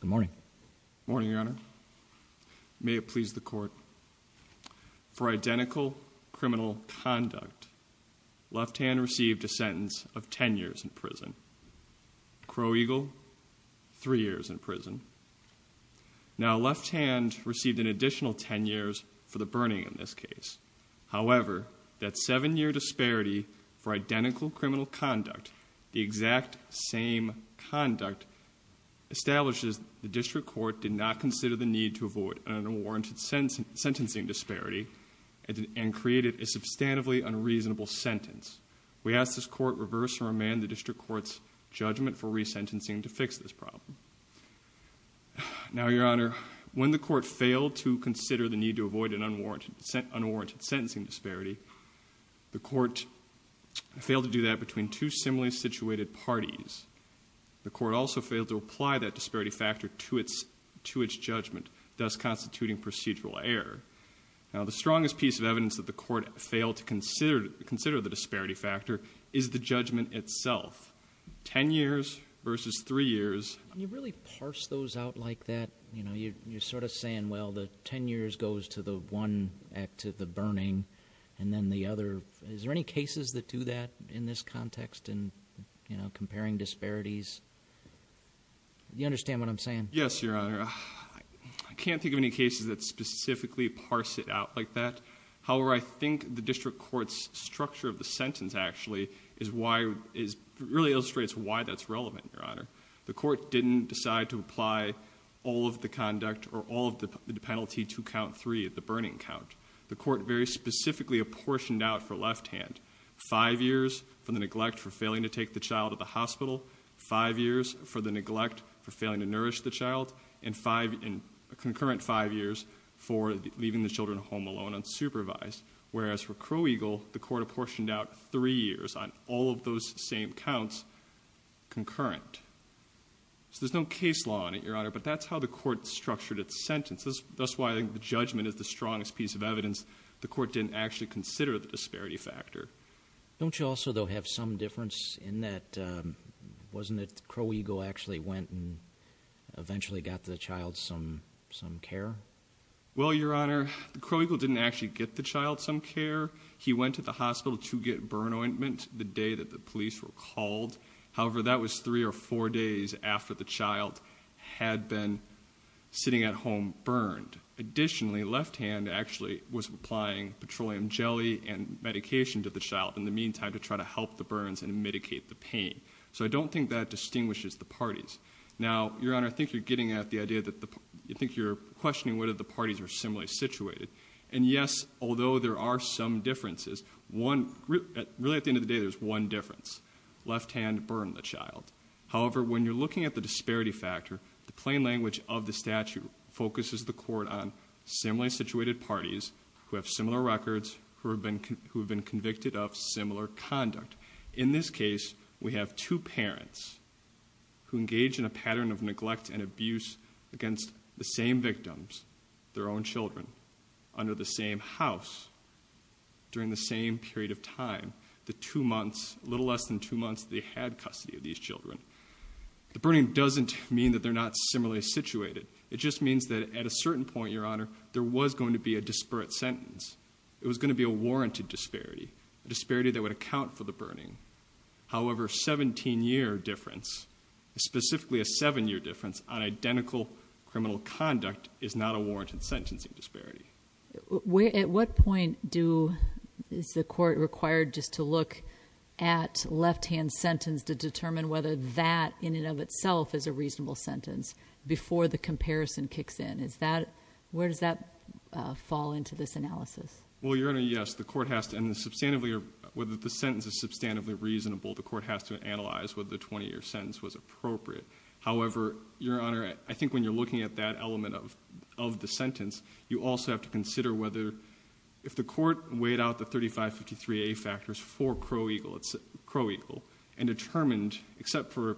Good morning. Morning, Your Honor. May it please the court. For identical criminal conduct, Left Hand received a sentence of ten years in prison. Crow Eagle, three years in prison. Now Left Hand received an additional ten years for the burning in this case. However, that seven-year disparity for identical criminal conduct, the exact same conduct establishes the district court did not consider the need to avoid an unwarranted sentencing disparity and created a substantively unreasonable sentence. We ask this court reverse or amend the district court's judgment for resentencing to fix this problem. Now, Your Honor, when the court failed to consider the need to avoid an unwarranted sentencing disparity, the court failed to do that between two similarly situated parties. The court also failed to apply that disparity factor to its judgment, thus constituting procedural error. Now, the strongest piece of evidence that the court failed to consider the disparity factor is the judgment itself. Ten years versus three years. Can you really parse those out like that? You know, you're sort of saying, well, the ten years goes to the one act of the burning and then the other. Is there any cases that do that in this context in, you know, comparing disparities? You understand what I'm saying? Yes, Your Honor. I can't think of any cases that specifically parse it out like that. However, I think the district court's structure of the sentence actually is why, really illustrates why that's relevant, Your Honor. The court didn't decide to apply all of the conduct or all of the penalty to count three at the burning count. The court very specifically apportioned out for left hand, five years for the neglect for failing to take the child at the hospital, five years for the neglect for failing to nourish the child, and five in concurrent five years for leaving the children home alone unsupervised. Whereas for Crow Eagle, the court apportioned out three years on all of those same counts concurrent. So there's no case law in it, Your Honor, but that's how the court structured its sentence. That's why I think the judgment is the strongest piece of evidence the court didn't actually consider the disparity factor. Don't you also, though, have some difference in that, wasn't it Crow Eagle actually went and eventually got the child some care? Well, Your Honor, Crow Eagle didn't actually get the child some care. He went to the hospital to get burn ointment the day that the police were called. However, that was three or four days after the child had been sitting at home burned. Additionally, left hand actually was applying petroleum jelly and medication to the child in the meantime to try to help the burns and mitigate the pain. So I don't think that distinguishes the parties. Now, Your Honor, I think you're getting at the idea that you think you're questioning whether the parties are similarly situated. And yes, although there are some differences, really at the end of the day there's one difference. Left hand burned the child. However, when you're looking at the disparity factor, the plain language of the statute focuses the court on similarly situated parties who have similar records, who have been convicted of similar conduct. In this case, we have two parents who engage in a pattern of neglect and abuse against the same victims, their own children, under the same house, during the same period of time, the two months, a little less than two months they had custody of these children. The burning doesn't mean that they're not similarly situated. It just means that at a certain point, Your Honor, there was going to be a disparate sentence. It was going to be a warranted disparity, a disparity that would account for the burning. However, 17-year difference, specifically a seven-year difference on identical criminal conduct is not a warranted sentencing disparity. At what point is the court required just to look at left-hand sentence to determine whether that in and of itself is a reasonable sentence before the comparison kicks in? Where does that fall into this analysis? Well, Your Honor, yes. The court has to, and the substantively, whether the sentence is substantively reasonable, the court has to analyze whether the 20-year sentence was appropriate. However, Your Honor, I think when you're looking at that element of the sentence, you also have to consider whether, if the court weighed out the 3553A factors for Crow Eagle and determined, except for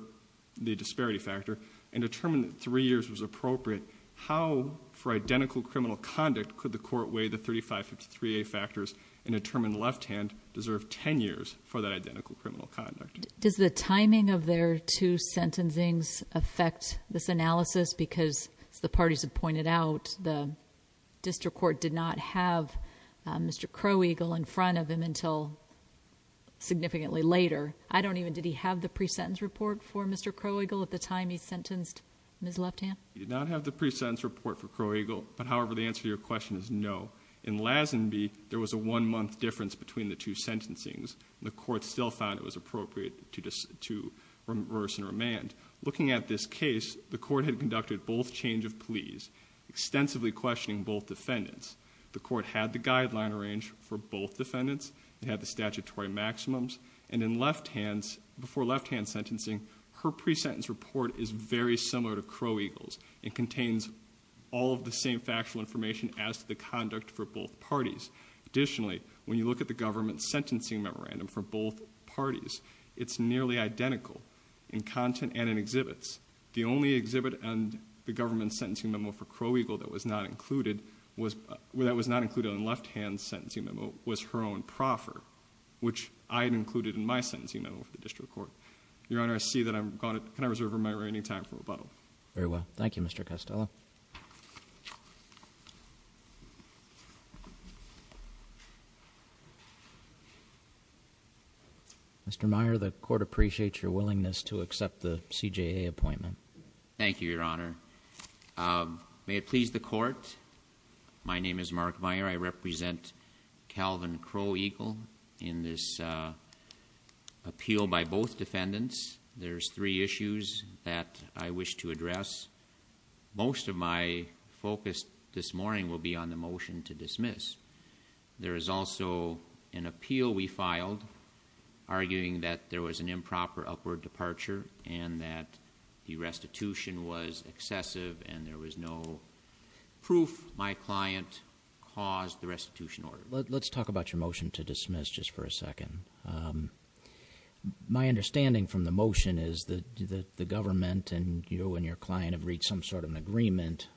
the disparity factor, and determined that three years was appropriate, how, for identical criminal conduct, could the court weigh the 3553A factors and determine left-hand deserved 10 years for that identical criminal conduct? Does the timing of their two sentencings affect this analysis? Because the parties have pointed out the district court did not have Mr. Crow Eagle in front of him until significantly later. I don't even, did he have the pre-sentence report for Mr. Crow Eagle at the time he sentenced Ms. Upton? He did not have the pre-sentence report for Crow Eagle, but however, the answer to your question is no. In Lazenby, there was a one-month difference between the two sentencings. The court still found it was appropriate to reverse and remand. Looking at this case, the court had conducted both change of pleas, extensively questioning both defendants. The court had the guideline arranged for both defendants. It had the statutory maximums, and in left-hands, before Crow Eagles. It contains all of the same factual information as to the conduct for both parties. Additionally, when you look at the government sentencing memorandum for both parties, it's nearly identical in content and in exhibits. The only exhibit on the government sentencing memo for Crow Eagle that was not included, that was not included in left-hand sentencing memo, was her own proffer, which I had included in my sentencing memo for the district court. Your Honor, I see that I'm gone. Can I reserve my remaining time for rebuttal? Very well. Thank you, Mr. Costello. Mr. Meyer, the court appreciates your willingness to accept the CJA appointment. Thank you, Your Honor. May it please the court, my name is Mark Meyer. I represent Calvin Crow Eagle in this appeal by both defendants. There's three issues that I wish to address. Most of my focus this morning will be on the motion to dismiss. There is also an appeal we filed arguing that there was an improper upward departure and that the restitution was excessive and there was no proof my restitution order. Let's talk about your motion to dismiss just for a second. My understanding from the motion is that the government and you and your client have reached some sort of an agreement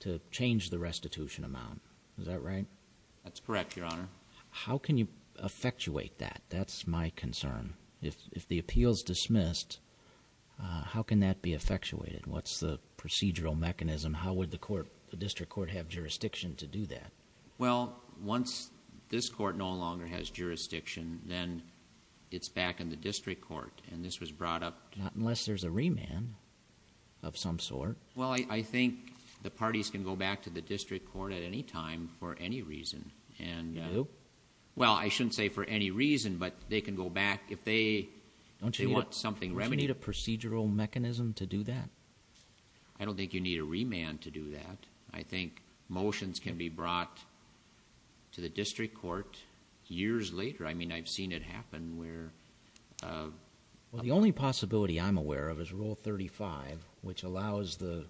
to change the restitution amount. Is that right? That's correct, Your Honor. How can you effectuate that? That's my concern. If the appeal is dismissed, how can that be effectuated? What's the procedural mechanism? How would the court, the district court, have jurisdiction to do that? Well, once this court no longer has jurisdiction, then it's back in the district court and this was brought up... Not unless there's a remand of some sort. Well, I think the parties can go back to the district court at any time for any reason. No? Well, I shouldn't say for any reason, but they can go back if they want something remedied. Don't you need a procedural mechanism to do that? I don't think you need a remand to do that. I think motions can be brought to the district court years later. I mean, I've seen it happen where... Well, the only possibility I'm aware of is Rule 35, which allows the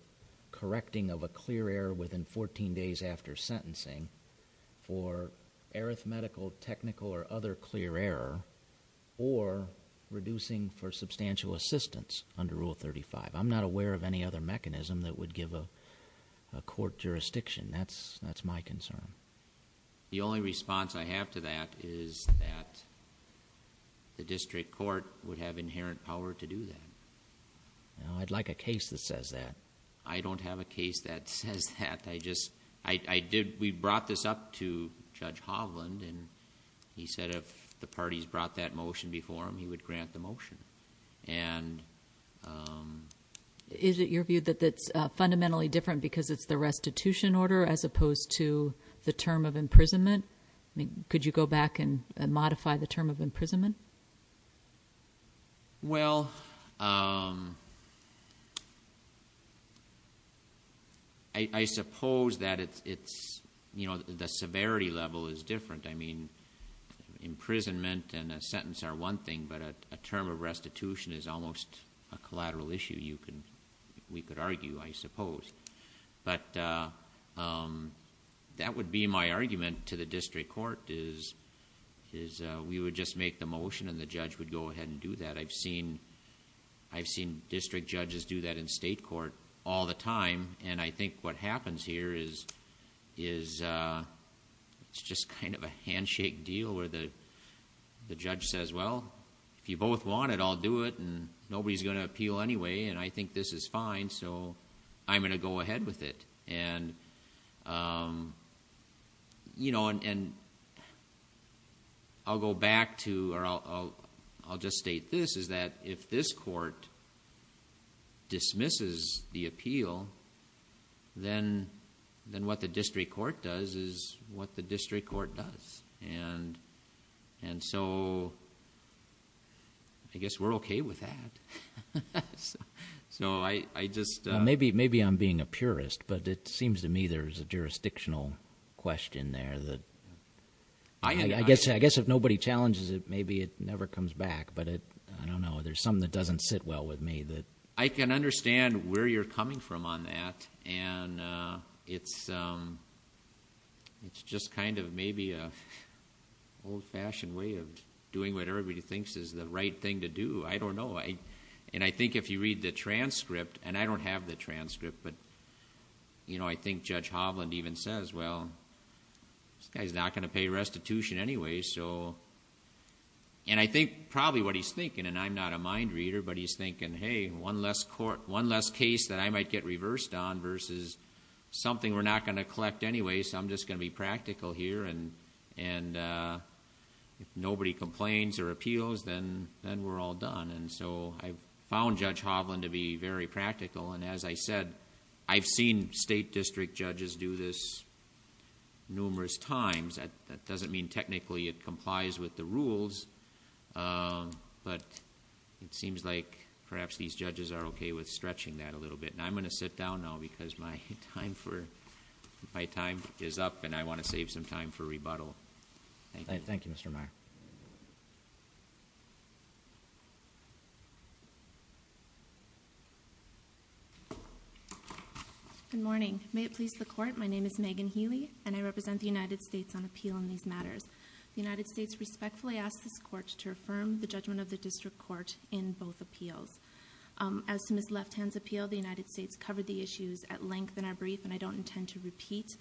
correcting of a clear error within 14 days after sentencing for arithmetical, technical, or other clear error, or reducing for substantial assistance under Rule 35. I'm not aware of any other mechanism that would give a court jurisdiction. That's my concern. The only response I have to that is that the district court would have inherent power to do that. I'd like a case that says that. I don't have a case that says that. We brought this up to Judge Hovland and he said if the parties brought that motion before him, he would grant the motion. Is it your view that that's fundamentally different because it's the restitution order as opposed to the term of imprisonment? Could you go back and modify the term of imprisonment? Well, I suppose that it's... the severity level is different. I mean, imprisonment and a sentence are one thing, but a term of restitution is almost a collateral issue we could argue, I suppose. That would be my argument to the district court is we would just make the motion and the judge would go ahead and do that. I've seen district judges do that in state court all the time, and I think what the judge says, well, if you both want it, I'll do it, and nobody's going to appeal anyway, and I think this is fine, so I'm going to go ahead with it. I'll go back to... I'll just state this, is that if this court dismisses the appeal, then what the district court does is what the district court does, and so I guess we're okay with that. So I just... Maybe I'm being a purist, but it seems to me there's a jurisdictional question there that... I guess if nobody challenges it, maybe it never comes back, but I don't know. There's something that doesn't sit well with me that... I can understand where you're coming from on that, and it's just kind of maybe an old-fashioned way of doing what everybody thinks is the right thing to do. I don't know, and I think if you read the transcript, and I don't have the transcript, but I think Judge Hovland even says, well, this guy's not going to pay restitution anyway, and I think probably what he's thinking, and I'm not a... One less case that I might get reversed on versus something we're not going to collect anyway, so I'm just going to be practical here, and if nobody complains or appeals, then we're all done. So I've found Judge Hovland to be very practical, and as I said, I've seen state district judges do this numerous times. That doesn't mean technically it complies with the rules, but it seems like perhaps these judges are okay with stretching that a little bit, and I'm going to sit down now because my time is up, and I want to save some time for rebuttal. Thank you. Thank you, Mr. Meyer. Good morning. May it please the Court, my name is Megan Healy, and I represent the United States on appeal in these matters. The United States respectfully asks this Court to affirm the judgment of the district court in both appeals. As to Ms. Lefthand's appeal, the United States covered the issues at length in our brief, and I don't intend to repeat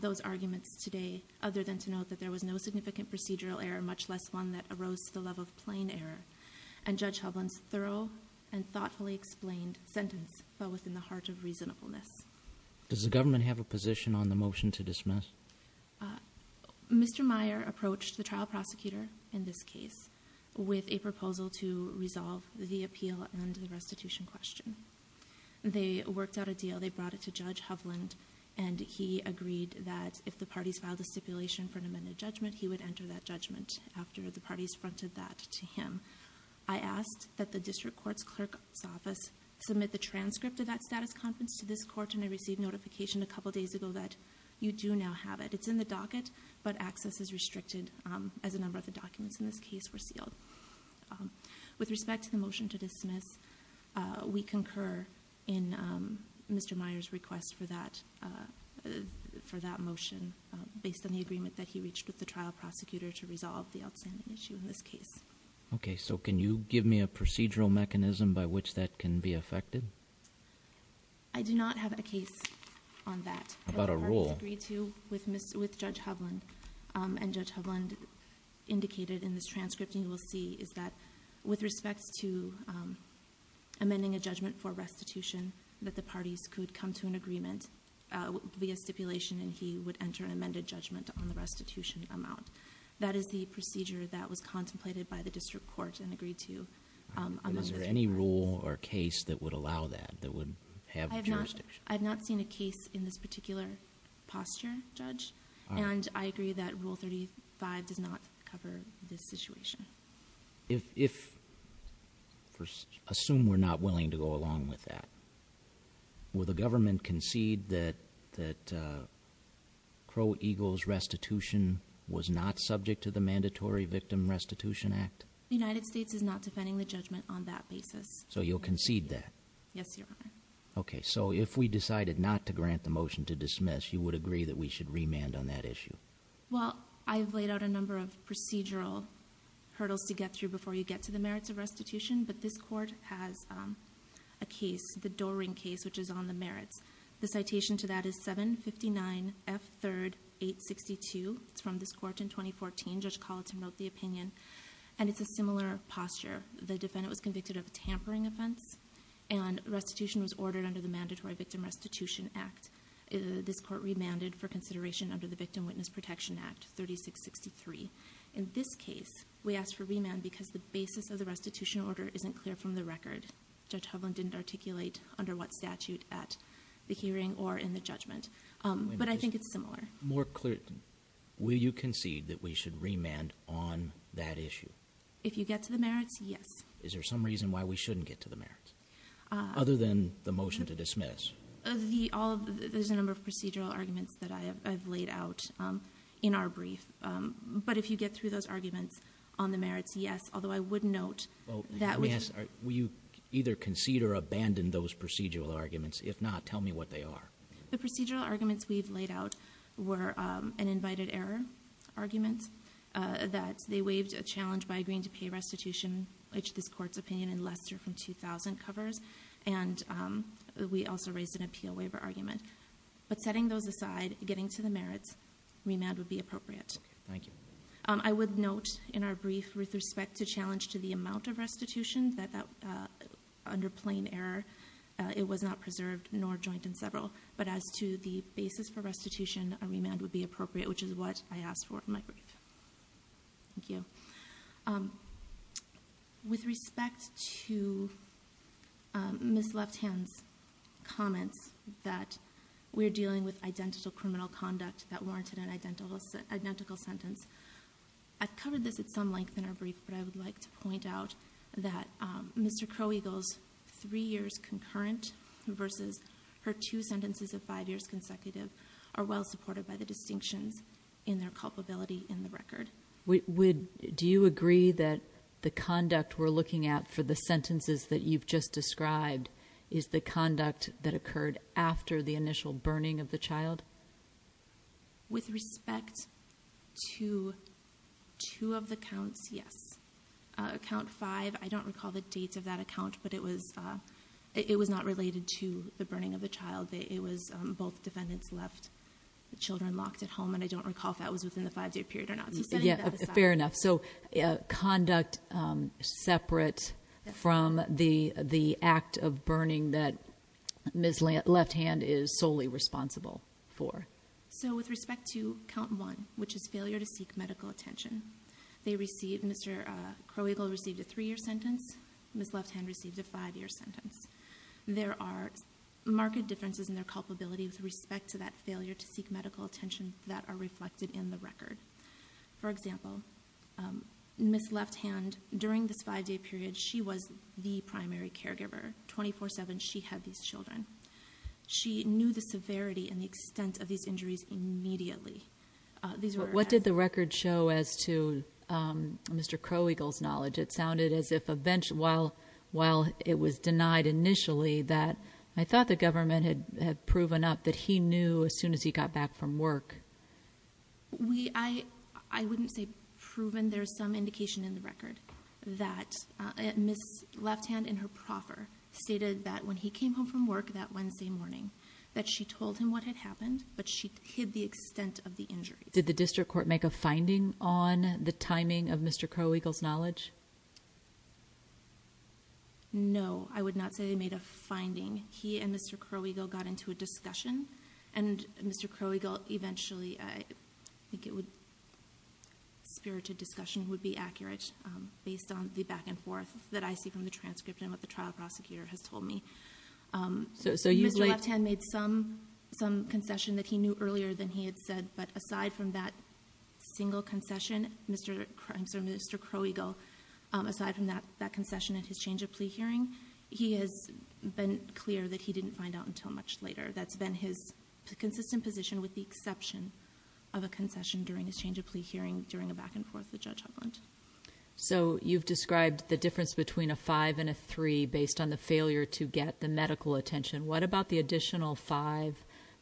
those arguments today other than to note that there was no significant procedural error, much less one that arose to the love of plain error, and Judge Hovland's thorough and thoughtfully explained sentence fell within the heart of reasonableness. Does the government have a position on the motion to dismiss? I do not. Mr. Meyer approached the trial prosecutor in this case with a proposal to resolve the appeal and the restitution question. They worked out a deal. They brought it to Judge Hovland, and he agreed that if the parties filed a stipulation for an amended judgment, he would enter that judgment after the parties fronted that to him. I asked that the district court's clerk's office submit the transcript of that status conference to this Court, and I received notification a couple days ago that you do now have it. It's in the docket, but access is restricted as a number of the documents in this case were sealed. With respect to the motion to dismiss, we concur in Mr. Meyer's request for that motion based on the agreement that he reached with the trial prosecutor to resolve the outstanding issue in this case. Okay, so can you give me a procedural mechanism by which that can be affected? I do not have a case on that. How about a rule? I've heard this agreed to with Judge Hovland, and Judge Hovland indicated in this transcript, and you will see, is that with respect to amending a judgment for restitution, that the parties could come to an agreement via stipulation, and he would enter an amended judgment on the restitution amount. That is the procedure that was contemplated by the district court and agreed to. Is there any rule or case that would allow that, that would have jurisdiction? I've not seen a case in this particular posture, Judge, and I agree that Rule 35 does not cover this situation. Assume we're not willing to go along with that, will the government concede that Crow Eagle's restitution was not subject to the Mandatory Victim Restitution Act? The United States is not defending the judgment on that basis. So you'll concede that? Yes, Your Honor. Okay, so if we decided not to grant the motion to dismiss, you would agree that we should remand on that issue? Well, I've laid out a number of procedural hurdles to get through before you get to the merits of restitution, but this court has a case, the Doring case, which is on the merits. The citation to that is 759 F3rd 862, it's from this court in 2014, Judge Colleton wrote the opinion. And it's a similar posture. The defendant was convicted of a tampering offense and restitution was ordered under the Mandatory Victim Restitution Act. This court remanded for consideration under the Victim Witness Protection Act, 3663. In this case, we asked for remand because the basis of the restitution order isn't clear from the record. Judge Hovland didn't articulate under what statute at the hearing or in the judgment, but I think it's similar. More clear, will you concede that we should remand on that issue? If you get to the merits, yes. Is there some reason why we shouldn't get to the merits? Other than the motion to dismiss. There's a number of procedural arguments that I've laid out in our brief. But if you get through those arguments on the merits, yes, although I would note that we- Yes, will you either concede or abandon those procedural arguments? If not, tell me what they are. The procedural arguments we've laid out were an invited error argument, that they waived a challenge by agreeing to pay restitution, which this court's opinion in Lester from 2000 covers. And we also raised an appeal waiver argument. But setting those aside, getting to the merits, remand would be appropriate. Thank you. I would note in our brief with respect to challenge to the amount of restitution that under plain error, it was not preserved, nor joined in several. But as to the basis for restitution, a remand would be appropriate, which is what I asked for in my brief. Thank you. With respect to Ms. Left Hand's comments that we're dealing with identical criminal conduct that warranted an identical sentence. I've covered this at some length in our brief, but I would like to point out that Mr. Crow Eagle's three years concurrent versus her two sentences of five years consecutive are well supported by the distinctions in their culpability in the record. Do you agree that the conduct we're looking at for the sentences that you've just described is the conduct that occurred after the initial burning of the child? With respect to two of the counts, yes. Count five, I don't recall the date of that account, but it was not related to the burning of the child. It was both defendants left the children locked at home, and I don't recall if that was within the five day period or not. So setting that aside. Fair enough. So conduct separate from the act of burning that Ms. Left Hand is solely responsible for. So with respect to count one, which is failure to seek medical attention, they received, Mr. Crow Eagle received a three year sentence, Ms. Left Hand received a five year sentence. There are marked differences in their culpability with respect to that failure to seek medical attention that are reflected in the record. For example, Ms. Left Hand, during this five day period, she was the primary caregiver. 24-7, she had these children. She knew the severity and the extent of these injuries immediately. These were- What did the record show as to Mr. Crow Eagle's knowledge? It sounded as if while it was denied initially that, I thought the government had proven up that he knew as soon as he got back from work. We, I wouldn't say proven. There's some indication in the record that Ms. Left Hand in her proffer stated that when he came home from work that Wednesday morning, that she told him what had happened, but she hid the extent of the injuries. Did the district court make a finding on the timing of Mr. Crow Eagle's knowledge? No, I would not say they made a finding. He and Mr. Crow Eagle got into a discussion, and Mr. Crow Eagle eventually, I think it would, spirited discussion would be accurate based on the back and forth that I see from the transcript and what the trial prosecutor has told me. Mr. Left Hand made some concession that he knew earlier than he had said, but aside from that single concession, Mr. Crow Eagle, aside from that concession and his change of plea hearing, he has been clear that he didn't find out until much later. That's been his consistent position with the exception of a concession during his change of plea hearing during a back and forth with Judge Hovland. So you've described the difference between a five and a three based on the failure to get the medical attention. What about the additional five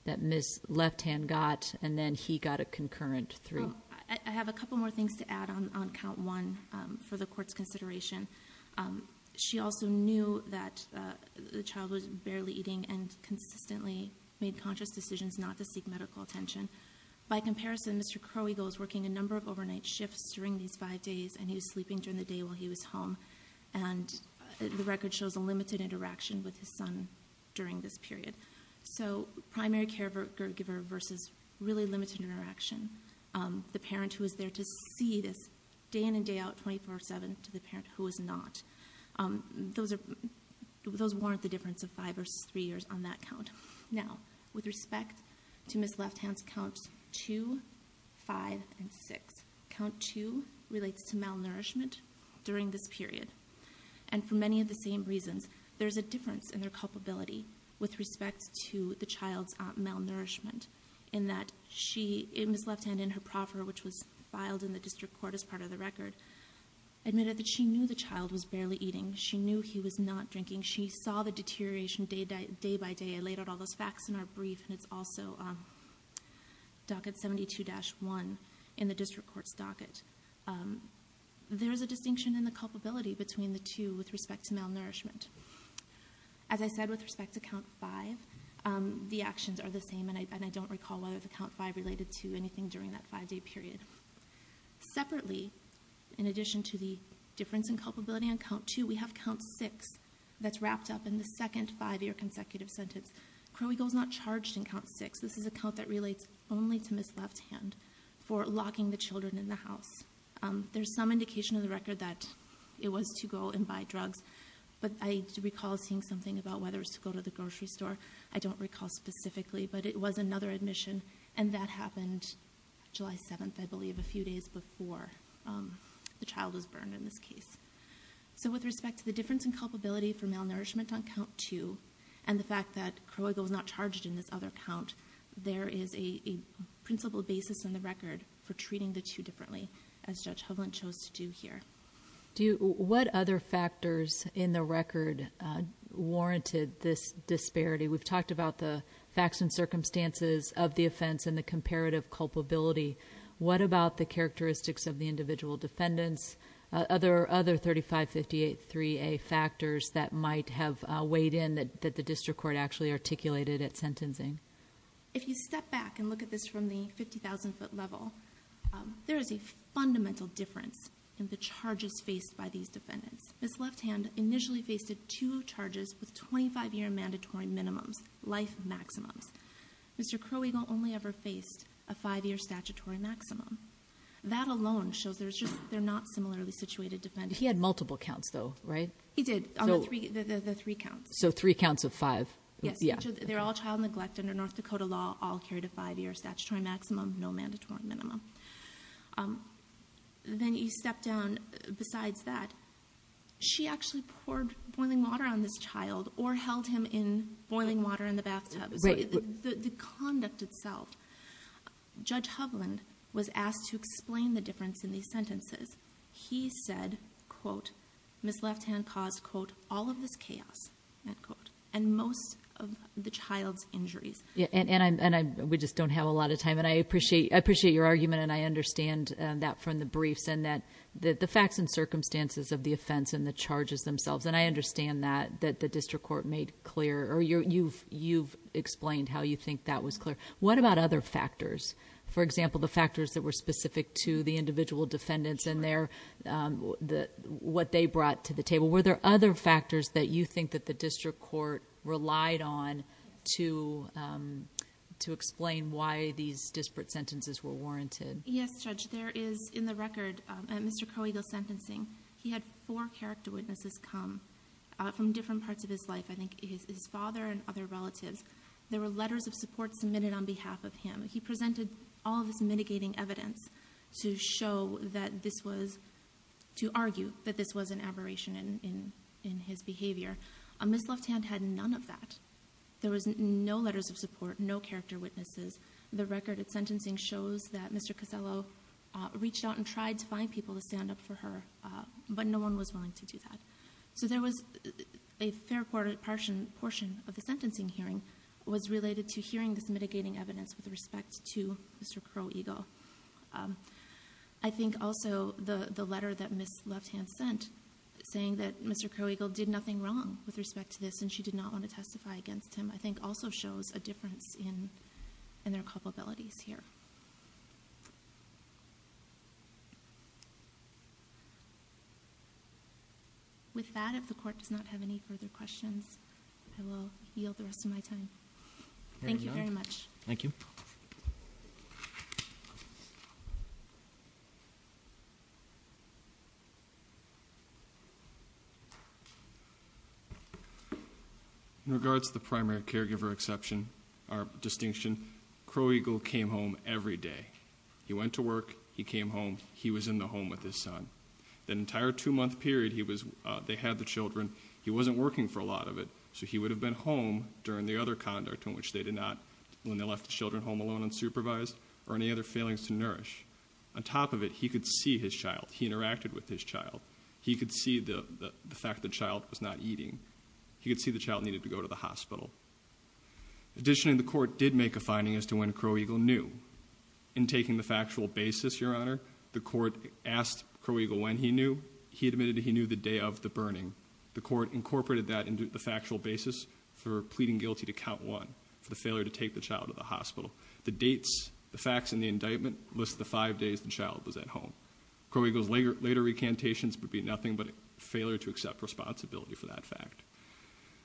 that Ms. Left Hand got, and then he got a concurrent three? I have a couple more things to add on count one for the court's consideration. She also knew that the child was barely eating and consistently made conscious decisions not to seek medical attention. By comparison, Mr. Crow Eagle is working a number of overnight shifts during these five days, and he was sleeping during the day while he was home. And the record shows a limited interaction with his son during this period. So primary caregiver versus really limited interaction. The parent who is there to see this day in and day out, 24-7, to the parent who is not. Those warrant the difference of five versus three years on that count. Now, with respect to Ms. Left Hand's counts two, five, and six. Count two relates to malnourishment during this period. And for many of the same reasons, there's a difference in their culpability with respect to the child's malnourishment. In that, Ms. Left Hand in her proffer, which was filed in the district court as part of the record, admitted that she knew the child was barely eating, she knew he was not drinking, she saw the deterioration day by day. I laid out all those facts in our brief, and it's also docket 72-1 in the district court's docket. There's a distinction in the culpability between the two with respect to malnourishment. As I said with respect to count five, the actions are the same. And I don't recall whether the count five related to anything during that five day period. Separately, in addition to the difference in culpability on count two, we have count six that's wrapped up in the second five year consecutive sentence. Crow Eagle's not charged in count six. This is a count that relates only to Ms. Left Hand for locking the children in the house. There's some indication in the record that it was to go and buy drugs. But I recall seeing something about whether it was to go to the grocery store. I don't recall specifically, but it was another admission. And that happened July 7th, I believe, a few days before the child was burned in this case. So with respect to the difference in culpability for malnourishment on count two, and the fact that Crow Eagle was not charged in this other count, there is a principle basis in the record for treating the two differently, as Judge Hovland chose to do here. Do you, what other factors in the record warranted this disparity? We've talked about the facts and circumstances of the offense and the comparative culpability. What about the characteristics of the individual defendants? Other 3558-3A factors that might have weighed in that the district court actually articulated at sentencing? If you step back and look at this from the 50,000 foot level, there is a fundamental difference in the charges faced by these defendants. Ms. Left Hand initially faced two charges with 25 year mandatory minimums, life maximums. Mr. Crow Eagle only ever faced a five year statutory maximum. That alone shows there's just, they're not similarly situated defendants. He had multiple counts though, right? He did, the three counts. So three counts of five. Yes, they're all child neglect under North Dakota law, all carried a five year statutory maximum, no mandatory minimum. Then you step down, besides that, she actually poured boiling water on this child or held him in boiling water in the bathtub, the conduct itself. Judge Hovland was asked to explain the difference in these sentences. He said, quote, Ms. Left Hand caused, quote, all of this chaos, end quote. And most of the child's injuries. Yeah, and we just don't have a lot of time. And I appreciate your argument, and I understand that from the briefs, and that the facts and circumstances of the offense and the charges themselves. And I understand that the district court made clear, or you've explained how you think that was clear. What about other factors? For example, the factors that were specific to the individual defendants and what they brought to the table. Were there other factors that you think that the district court relied on to explain why these disparate sentences were warranted? Yes, Judge. There is, in the record, Mr. Coagle's sentencing, he had four character witnesses come from different parts of his life. I think his father and other relatives. There were letters of support submitted on behalf of him. He presented all of this mitigating evidence to show that this was, to argue that this was an aberration in his behavior. Ms. Left Hand had none of that. There was no letters of support, no character witnesses. The record of sentencing shows that Mr. Cosello reached out and tried to find people to stand up for her, but no one was willing to do that. So there was a fair portion of the sentencing hearing was related to hearing this mitigating evidence with respect to Mr. Crow Eagle. I think also the letter that Ms. Left Hand sent, saying that Mr. Crow Eagle did nothing wrong with respect to this and she did not want to testify against him, I think also shows a difference in their culpabilities here. With that, if the court does not have any further questions, I will yield the rest of my time. Thank you very much. Thank you. In regards to the primary caregiver exception, our distinction, Crow Eagle came home every day. He went to work, he came home, he was in the home with his son. The entire two month period they had the children, he wasn't working for a lot of it, so he would have been home during the other conduct in which they did not, when they left the children home alone unsupervised, or any other failings to nourish. On top of it, he could see his child, he interacted with his child. He could see the fact that the child was not eating. He could see the child needed to go to the hospital. Additionally, the court did make a finding as to when Crow Eagle knew. In taking the factual basis, your honor, the court asked Crow Eagle when he knew. He admitted that he knew the day of the burning. The court incorporated that into the factual basis for pleading guilty to count one, for the failure to take the child to the hospital. The dates, the facts in the indictment list the five days the child was at home. Crow Eagle's later recantations would be nothing but a failure to accept responsibility for that fact.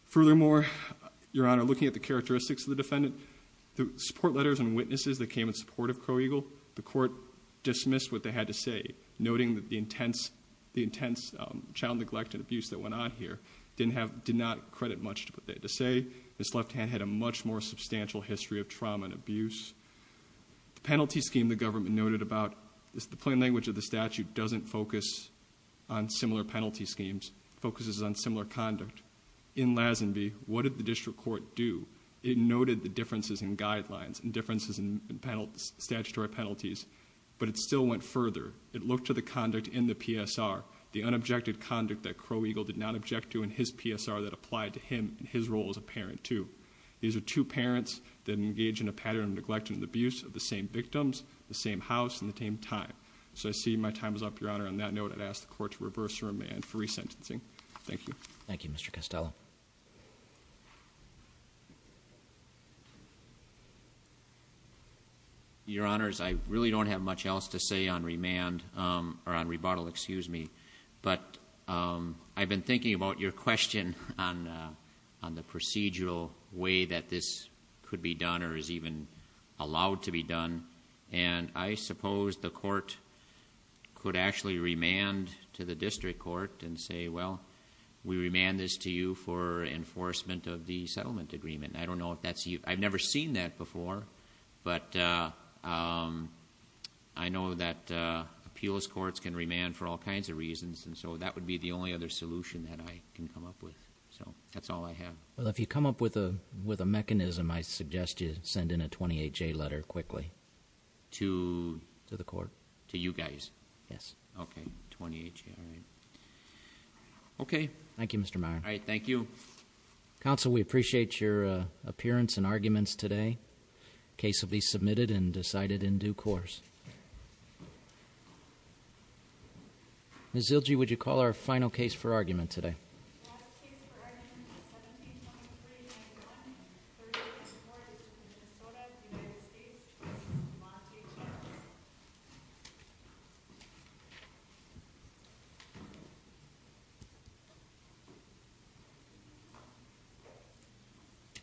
Furthermore, your honor, looking at the characteristics of the defendant, the support letters and witnesses that came in support of Crow Eagle. The court dismissed what they had to say, noting that the intense child neglect and abuse that went on here did not credit much to what they had to say. This left hand had a much more substantial history of trauma and abuse. Penalty scheme the government noted about, the plain language of the statute doesn't focus on similar penalty schemes. Focuses on similar conduct. In Lazenby, what did the district court do? It noted the differences in guidelines and differences in statutory penalties. But it still went further. It looked to the conduct in the PSR, the unobjected conduct that Crow Eagle did not object to in his PSR that applied to him in his role as a parent too. These are two parents that engage in a pattern of neglect and abuse of the same victims, the same house, and the same time. So I see my time is up, your honor. On that note, I'd ask the court to reverse remand for resentencing. Thank you. Thank you, Mr. Costello. Your honors, I really don't have much else to say on remand, or on rebuttal, excuse me. But I've been thinking about your question on the procedural way that this could be done or is even allowed to be done. And I suppose the court could actually remand to the district court and say, well, we remand this to you for enforcement of the settlement agreement. I don't know if that's, I've never seen that before. But I know that appeals courts can remand for all kinds of reasons. And so that would be the only other solution that I can come up with. So, that's all I have. Well, if you come up with a mechanism, I suggest you send in a 28-J letter quickly. To? To the court. To you guys? Yes. Okay, 28-J, all right. Okay. Thank you, Mr. Meyer. All right, thank you. Counsel, we appreciate your appearance and arguments today. Case will be submitted and decided in due course. Ms. Zilge, would you call our final case for argument today? Last case for argument, 172391, 38th and 4th, Minnesota, United States, Montage House.